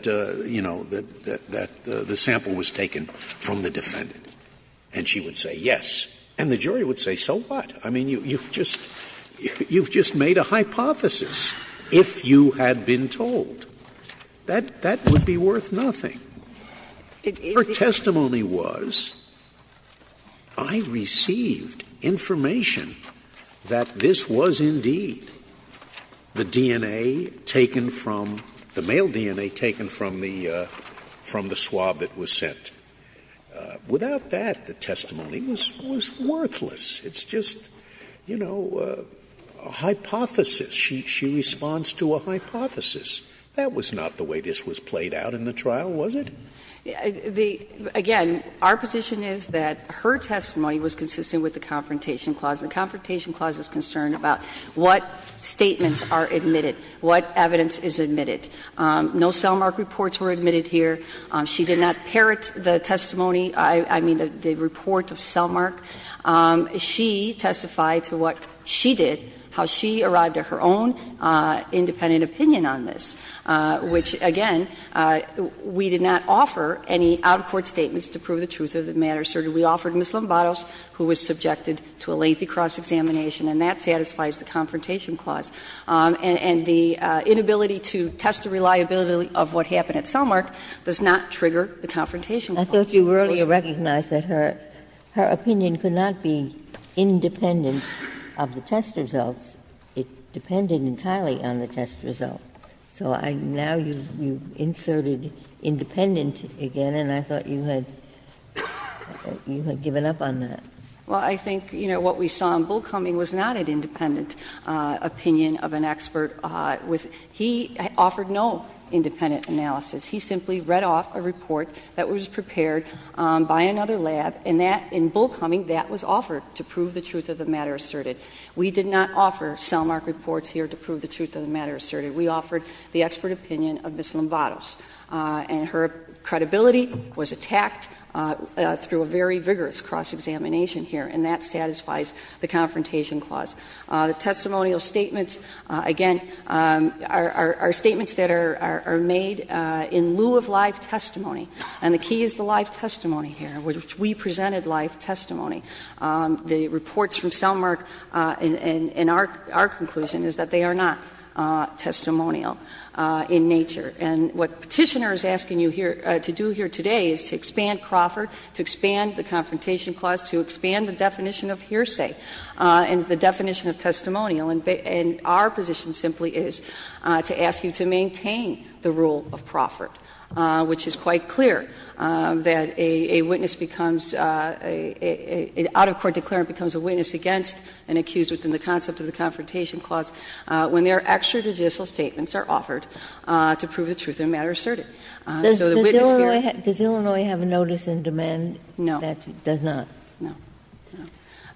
you know, that the sample was taken from the defendant? And she would say yes. And the jury would say, so what? I mean, you've just, you've just made a hypothesis, if you had been told. That, that would be worth nothing. Her testimony was, I received information that this was indeed the DNA taken from the male DNA taken from the, from the swab that was sent. Without that, the testimony was, was worthless. It's just, you know, a hypothesis. She, she responds to a hypothesis. That was not the way this was played out in the trial, was it? The, again, our position is that her testimony was consistent with the Confrontation Clause. The Confrontation Clause is concerned about what statements are admitted, what evidence is admitted. No Selmark reports were admitted here. She did not parrot the testimony, I mean, the report of Selmark. She testified to what she did, how she arrived at her own independent opinion on this, which, again, we did not offer any out-of-court statements to prove the truth of the matter, sir. We offered Ms. Lombados, who was subjected to a lengthy cross-examination, and that satisfies the Confrontation Clause. And the inability to test the reliability of what happened at Selmark does not trigger the Confrontation Clause. Ginsburg, I thought you earlier recognized that her, her opinion could not be independent of the test results. It depended entirely on the test result. So I now you, you inserted independent again, and I thought you had, you had given up on that. Well, I think, you know, what we saw in Bullcoming was not an independent opinion of an expert with he offered no independent analysis. He simply read off a report that was prepared by another lab, and that, in Bullcoming, that was offered to prove the truth of the matter asserted. We did not offer Selmark reports here to prove the truth of the matter asserted. We offered the expert opinion of Ms. Lombados. And her credibility was attacked through a very vigorous cross-examination here, and that satisfies the Confrontation Clause. The testimonial statements, again, are statements that are made in lieu of live testimony. And the key is the live testimony here, which we presented live testimony. The reports from Selmark, in our conclusion, is that they are not testimonial in nature. And what Petitioner is asking you here to do here today is to expand Crawford, to expand the Confrontation Clause, to expand the definition of hearsay, and the definition of testimonial. And our position simply is to ask you to maintain the rule of Crawford, which is quite clear, that a witness becomes a — an out-of-court declarant becomes a witness against an accused within the concept of the Confrontation Clause when their extra judicial statements are offered to prove the truth of the matter asserted. So the witness here — Ginsburg. Does Illinois have a notice in demand that does not? No.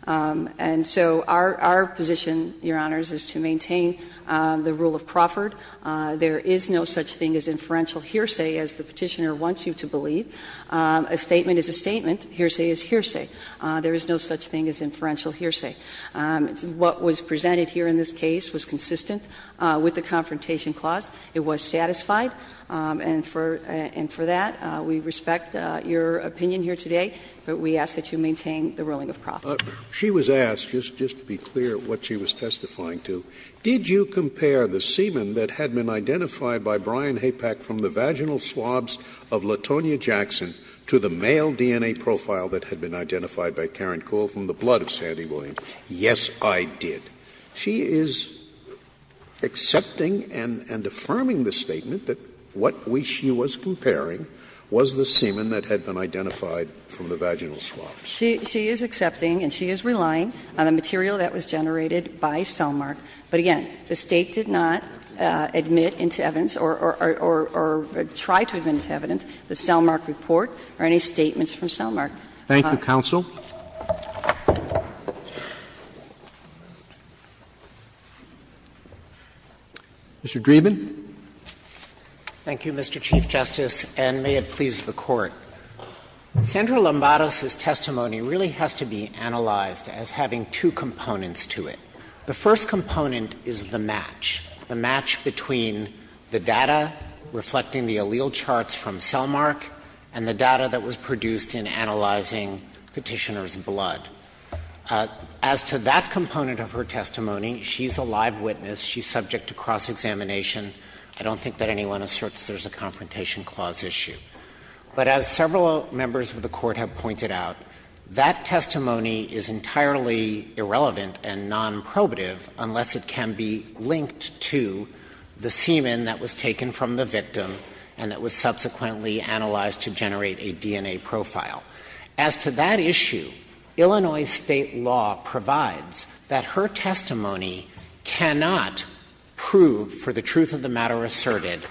And so our position, Your Honors, is to maintain the rule of Crawford. There is no such thing as inferential hearsay, as the Petitioner wants you to believe. A statement is a statement. Hearsay is hearsay. There is no such thing as inferential hearsay. What was presented here in this case was consistent with the Confrontation Clause. It was satisfied, and for — and for that, we respect your opinion here today. But we ask that you maintain the ruling of Crawford. She was asked, just to be clear, what she was testifying to. Did you compare the semen that had been identified by Brian Hapak from the vaginal swabs of Latonia Jackson to the male DNA profile that had been identified by Karen Coole from the blood of Sandy Williams? Yes, I did. She is accepting and affirming the statement that what we — she was comparing was the semen that had been identified from the vaginal swabs. She is accepting and she is relying on the material that was generated by Cellmark. But again, the State did not admit into evidence or try to admit into evidence the Cellmark report or any statements from Cellmark. Thank you, counsel. Mr. Dreeben. Thank you, Mr. Chief Justice, and may it please the Court. Sandra Lombardos' testimony really has to be analyzed as having two components to it. The first component is the match, the match between the data reflecting the allele charts from Cellmark and the data that was produced in analyzing Petitioner's blood. As to that component of her testimony, she's a live witness. She's subject to cross-examination. I don't think that anyone asserts there's a confrontation clause issue. But as several members of the Court have pointed out, that testimony is entirely irrelevant and non-probative unless it can be linked to the semen that was taken from the victim and that was subsequently analyzed to generate a DNA profile. As to that issue, Illinois State law provides that her testimony cannot be used to disprove or not prove, for the truth of the matter asserted,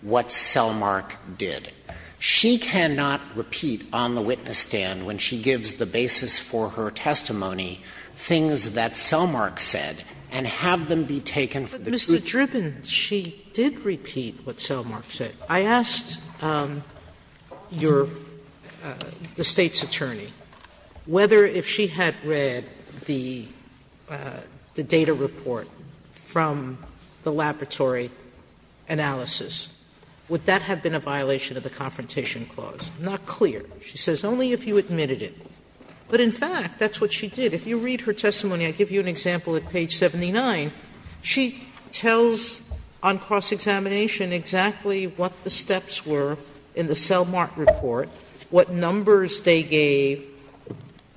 what Cellmark did. She cannot repeat on the witness stand when she gives the basis for her testimony things that Cellmark said and have them be taken from the truth. Sotomayor But, Mr. Dreeben, she did repeat what Cellmark said. I asked your — the State's attorney whether, if she had read the data report from the laboratory analysis, would that have been a violation of the confrontation clause. Not clear. She says, only if you admitted it. But, in fact, that's what she did. If you read her testimony, I give you an example at page 79, she tells on cross-examination exactly what the steps were in the Cellmark report, what numbers they gave,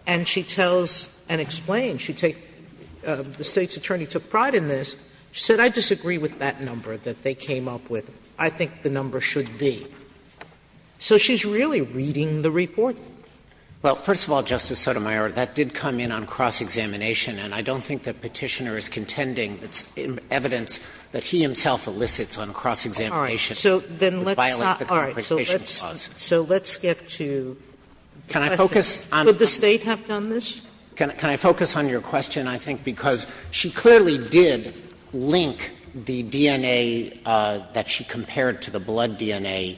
and she tells and explains. She takes — the State's attorney took pride in this. She said, I disagree with that number that they came up with. I think the number should be. So she's really reading the report? Dreeben Well, first of all, Justice Sotomayor, that did come in on cross-examination, and I don't think the Petitioner is contending. It's evidence that he himself elicits on cross-examination. Sotomayor All right. So then let's not — all right. So let's get to the question. Could the State have done this? Dreeben Can I focus on your question? I think because she clearly did link the DNA that she compared to the blood DNA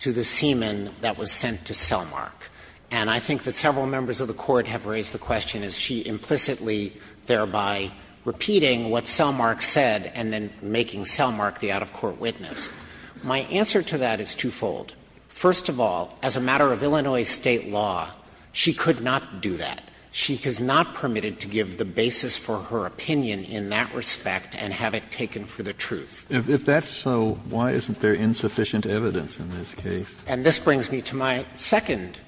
to the semen that was sent to Cellmark. And I think that several members of the Court have raised the question, is she implicitly there by repeating what Cellmark said and then making Cellmark the out-of-court witness? My answer to that is twofold. First of all, as a matter of Illinois State law, she could not do that. She is not permitted to give the basis for her opinion in that respect and have it taken for the truth. Kennedy If that's so, why isn't there insufficient evidence in this case? Dreeben And this brings me to my second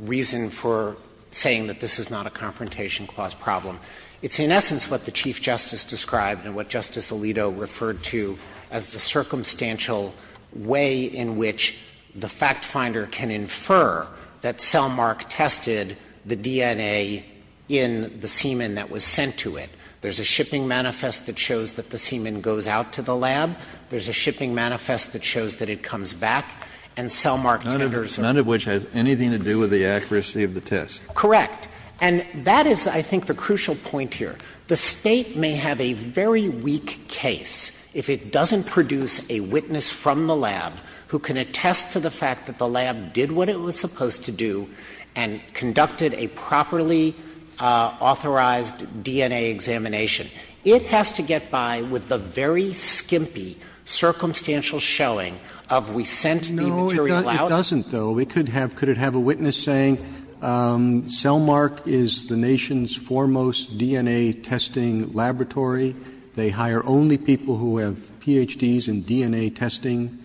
reason for saying that this is not a confrontation clause problem. It's in essence what the Chief Justice described and what Justice Alito referred to as the circumstantial way in which the factfinder can infer that Cellmark tested the DNA in the semen that was sent to it. There's a shipping manifest that shows that the semen goes out to the lab. There's a shipping manifest that shows that it comes back and Cellmark tenders it. None of which has anything to do with the accuracy of the test. Dreeben Correct. And that is, I think, the crucial point here. The State may have a very weak case if it doesn't produce a witness from the lab who can attest to the fact that the lab did what it was supposed to do and conducted a properly authorized DNA examination. It has to get by with the very skimpy circumstantial showing of we sent the material out. Roberts No, it doesn't, though. It could have — could it have a witness saying Cellmark is the nation's foremost DNA testing laboratory, they hire only people who have Ph.D.s in DNA testing?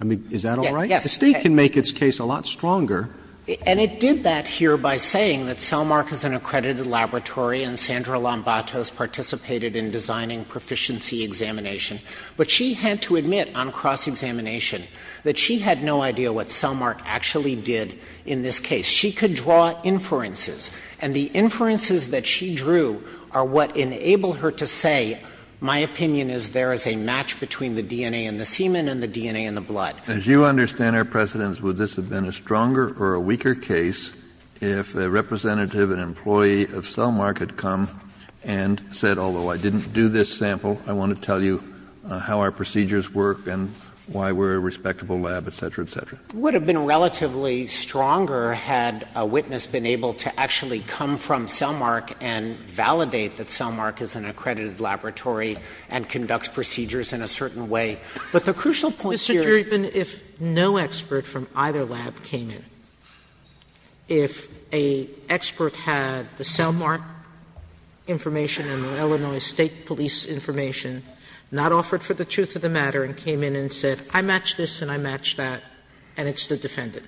I mean, is that all right? Dreeben Yes. Roberts The State can make its case a lot stronger. Dreeben And it did that here by saying that Cellmark is an accredited laboratory and Sandra Lombatos participated in designing proficiency examination. But she had to admit on cross-examination that she had no idea what Cellmark actually did in this case. She could draw inferences, and the inferences that she drew are what enabled her to say, my opinion is there is a match between the DNA in the semen and the DNA in the blood. Kennedy As you understand, Your Precedence, would this have been a stronger or a weaker case if a representative, an employee of Cellmark had come and said, although I didn't do this sample, I want to tell you how our procedures work and why we're a respectable lab, et cetera, et cetera? Dreeben It would have been relatively stronger had a witness been able to actually come from Cellmark and validate that Cellmark is an accredited laboratory and conducts procedures in a certain way. But the crucial point here is that Sotomayor Mr. Dreeben, if no expert from either lab came in, if an expert had the Cellmark information and the Illinois State Police information, not offered for the truth of the matter, and came in and said, I match this and I match that, and it's the defendant,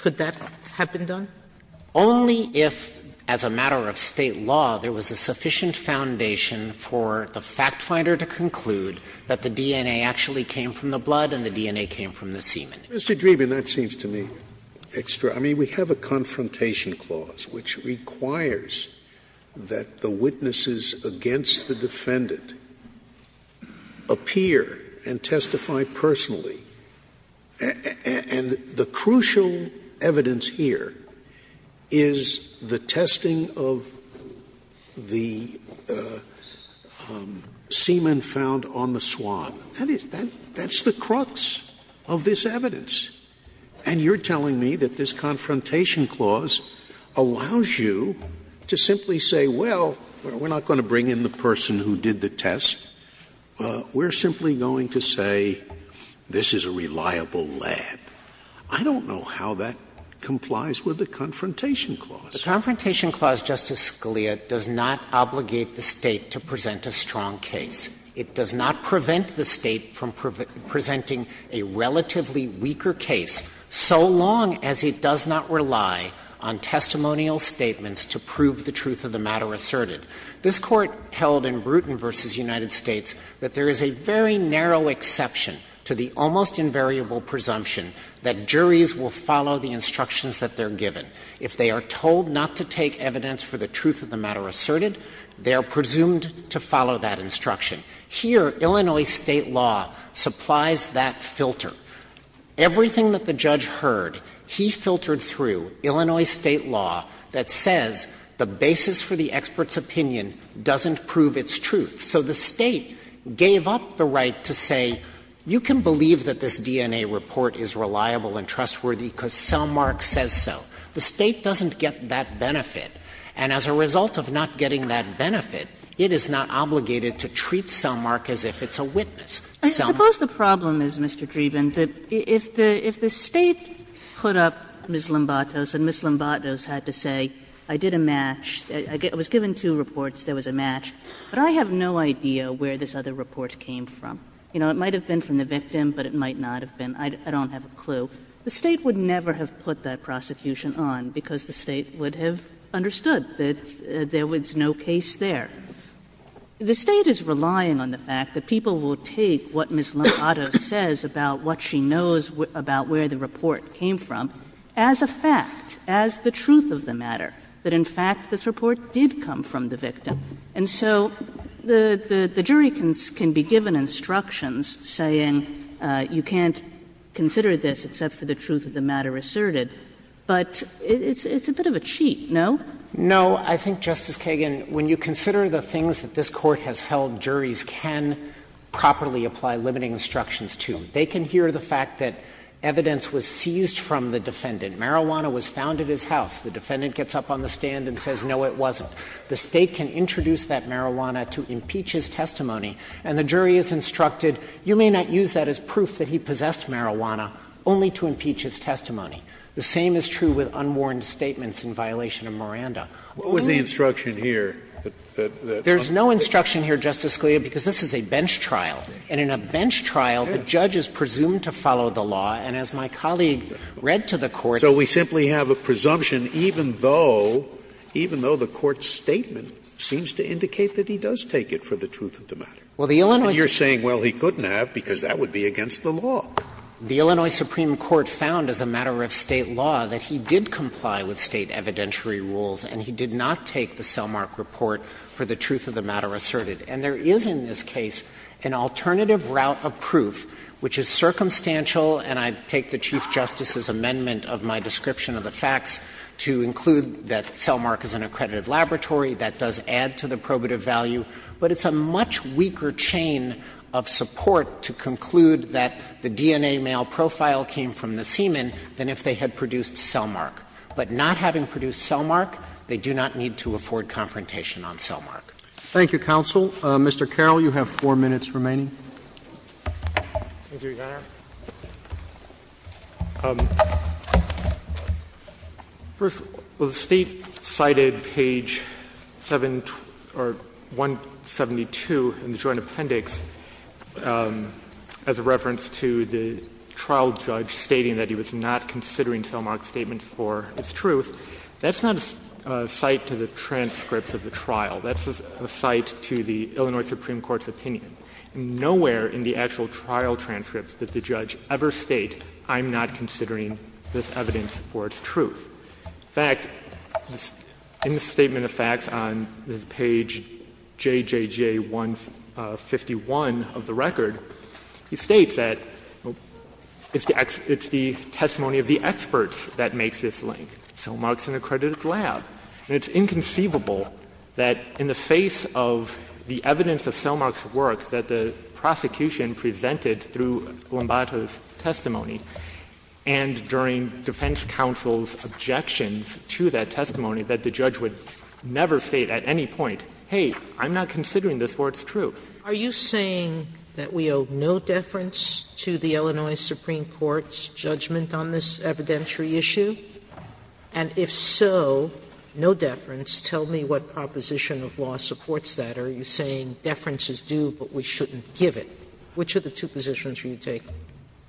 could that have been done? Dreeben Only if, as a matter of State law, there was a sufficient foundation for the fact finder to conclude that the DNA actually came from the blood and the DNA came from the semen. Scalia Mr. Dreeben, that seems to me extraordinary. I mean, we have a confrontation clause which requires that the witnesses against the defendant appear and testify personally. And the crucial evidence here is the testing of the semen found on the swab. That is the crux of this evidence. And you're telling me that this confrontation clause allows you to simply say, well, we're not going to bring in the person who did the test, we're simply going to say this is a reliable lab. I don't know how that complies with the confrontation clause. Dreeben The confrontation clause, Justice Scalia, does not obligate the State to present a strong case. It does not prevent the State from presenting a relatively weaker case, so long as it does not rely on testimonial statements to prove the truth of the matter asserted. This Court held in Bruton v. United States that there is a very narrow exception to the almost invariable presumption that juries will follow the instructions that they're given. If they are told not to take evidence for the truth of the matter asserted, they are presumed to follow that instruction. Here, Illinois State law supplies that filter. Everything that the judge heard, he filtered through Illinois State law that says the basis for the expert's opinion doesn't prove its truth. So the State gave up the right to say, you can believe that this DNA report is reliable and trustworthy because cell mark says so. The State doesn't get that benefit. And as a result of not getting that benefit, it is not obligated to treat cell mark as if it's a witness. Cell mark. Kagan I suppose the problem is, Mr. Dreeben, that if the State put up Ms. Lombatos and Ms. Lombatos had to say, I did a match, I was given two reports, there was a match, but I have no idea where this other report came from. You know, it might have been from the victim, but it might not have been. I don't have a clue. The State would never have put that prosecution on because the State would have understood that there was no case there. The State is relying on the fact that people will take what Ms. Lombatos says about what she knows about where the report came from as a fact, as the truth of the matter, that in fact this report did come from the victim. And so the jury can be given instructions saying you can't consider this except for the truth of the matter asserted, but it's a bit of a cheat, no? No, I think, Justice Kagan, when you consider the things that this Court has held, juries can properly apply limiting instructions to. They can hear the fact that evidence was seized from the defendant. Marijuana was found at his house. The defendant gets up on the stand and says, no, it wasn't. The State can introduce that marijuana to impeach his testimony, and the jury is instructed, you may not use that as proof that he possessed marijuana, only to impeach his testimony. The same is true with unwarned statements in violation of Miranda. Scalia, because this is a bench trial, and in a bench trial the judge is presumed to follow the law, and as my colleague read to the Court, so we simply have a presumption even though, even though the Court's statement seems to indicate that he does take it for the truth of the matter. And you're saying, well, he couldn't have, because that would be against the law. The Illinois Supreme Court found, as a matter of State law, that he did comply with State evidentiary rules, and he did not take the Selmark report for the truth of the matter asserted. And there is, in this case, an alternative route of proof which is circumstantial, and I take the Chief Justice's amendment of my description of the facts to include that Selmark is an accredited laboratory, that does add to the probative value, but it's a much weaker chain of support to conclude that the DNA male profile came from the semen than if they had produced Selmark. But not having produced Selmark, they do not need to afford confrontation on Selmark. Roberts. Thank you, counsel. Mr. Carroll, you have four minutes remaining. Mr. Chairman, I would like to start with the fact that in the case of 1772 in the joint appendix, as a reference to the trial judge stating that he was not considering Selmark's statement for his truth, that's not a cite to the transcripts of the trial. That's a cite to the Illinois Supreme Court's opinion. Nowhere in the actual trial transcripts did the judge ever state, I'm not considering this evidence for its truth. In fact, in the statement of facts on page JJJ151 of the record, he states that it's the testimony of the experts that makes this link. Selmark is an accredited lab. And it's inconceivable that in the face of the evidence of Selmark's work that the prosecution presented through Lombardo's testimony and during defense counsel's objections to that testimony that the judge would never state at any point, hey, I'm not considering this for its truth. Are you saying that we owe no deference to the Illinois Supreme Court's judgment on this evidentiary issue? And if so, no deference, tell me what proposition of law supports that. Are you saying deference is due, but we shouldn't give it? Which of the two positions will you take?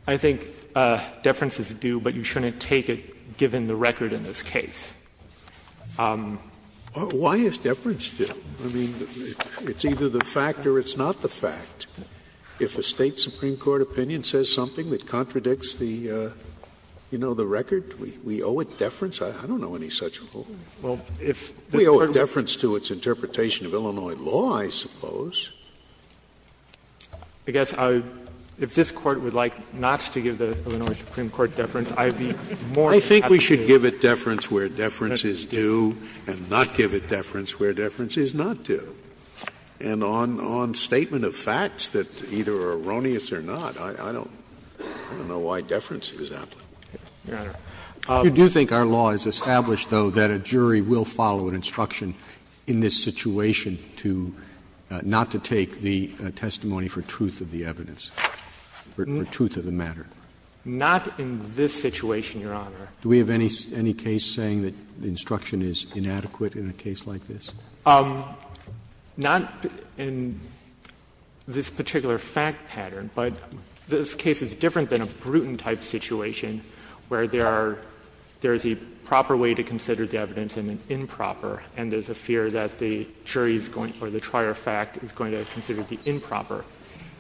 I think deference is due, but you shouldn't take it given the record in this case. Scalia Why is deference due? I mean, it's either the fact or it's not the fact. If a State supreme court opinion says something that contradicts the, you know, the record, we owe it deference? I don't know any such rule. We owe it deference to its interpretation of Illinois law, I suppose. I guess I — if this Court would like not to give the Illinois Supreme Court deference, I'd be more than happy to. I think we should give it deference where deference is due and not give it deference where deference is not due. And on statement of facts that either are erroneous or not, I don't know why deference is that way. Your Honor, you do think our law is established, though, that a jury will follow an instruction in this situation to — not to take the testimony for truth of the evidence, for truth of the matter? Not in this situation, Your Honor. Do we have any case saying that the instruction is inadequate in a case like this? Not in this particular fact pattern, but this case is different than a Bruton-type situation where there are — there is a proper way to consider the evidence and an improper, and there's a fear that the jury is going to — or the trier of fact is going to consider the improper.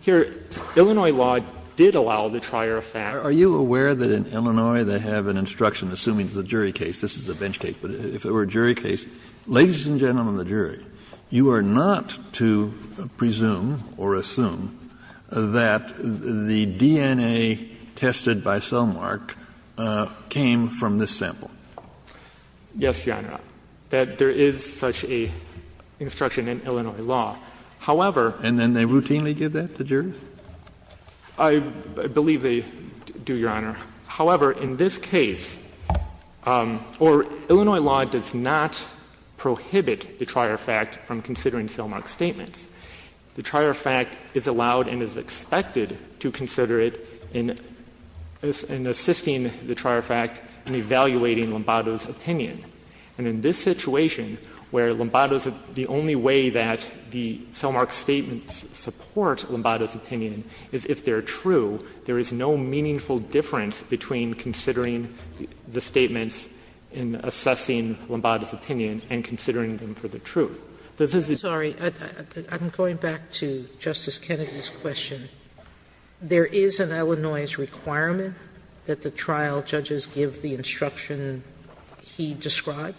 Here, Illinois law did allow the trier of fact. Are you aware that in Illinois they have an instruction, assuming it's a jury case — this is a bench case, but if it were a jury case — ladies and gentlemen of the jury, you are not to presume or assume that the DNA tested by Selmark came from this sample. Yes, Your Honor. That there is such an instruction in Illinois law. However — And then they routinely give that to jurors? I believe they do, Your Honor. However, in this case — or Illinois law does not prohibit the trier of fact from considering Selmark's statements. The trier of fact is allowed and is expected to consider it in assisting the trier of fact in evaluating Lombardo's opinion. And in this situation, where Lombardo's — the only way that the Selmark statements support Lombardo's opinion is if they're true, there is no meaningful difference between considering the statements in assessing Lombardo's opinion and considering them for the truth. So this is a— Sotomayor, I'm sorry. I'm going back to Justice Kennedy's question. There is an Illinois requirement that the trial judges give the instruction he described?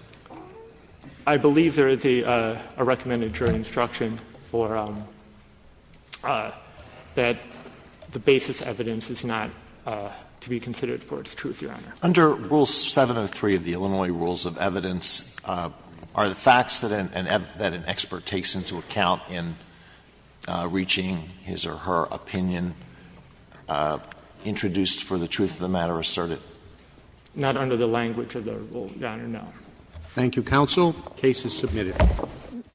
I believe there is a recommended jury instruction for — that the basis evidence is not to be considered for its truth, Your Honor. Under Rule 703 of the Illinois Rules of Evidence, are the facts that an expert takes into account in reaching his or her opinion introduced for the truth of the matter asserted? Not under the language of the Rule, Your Honor, no. Thank you, counsel. The case is submitted.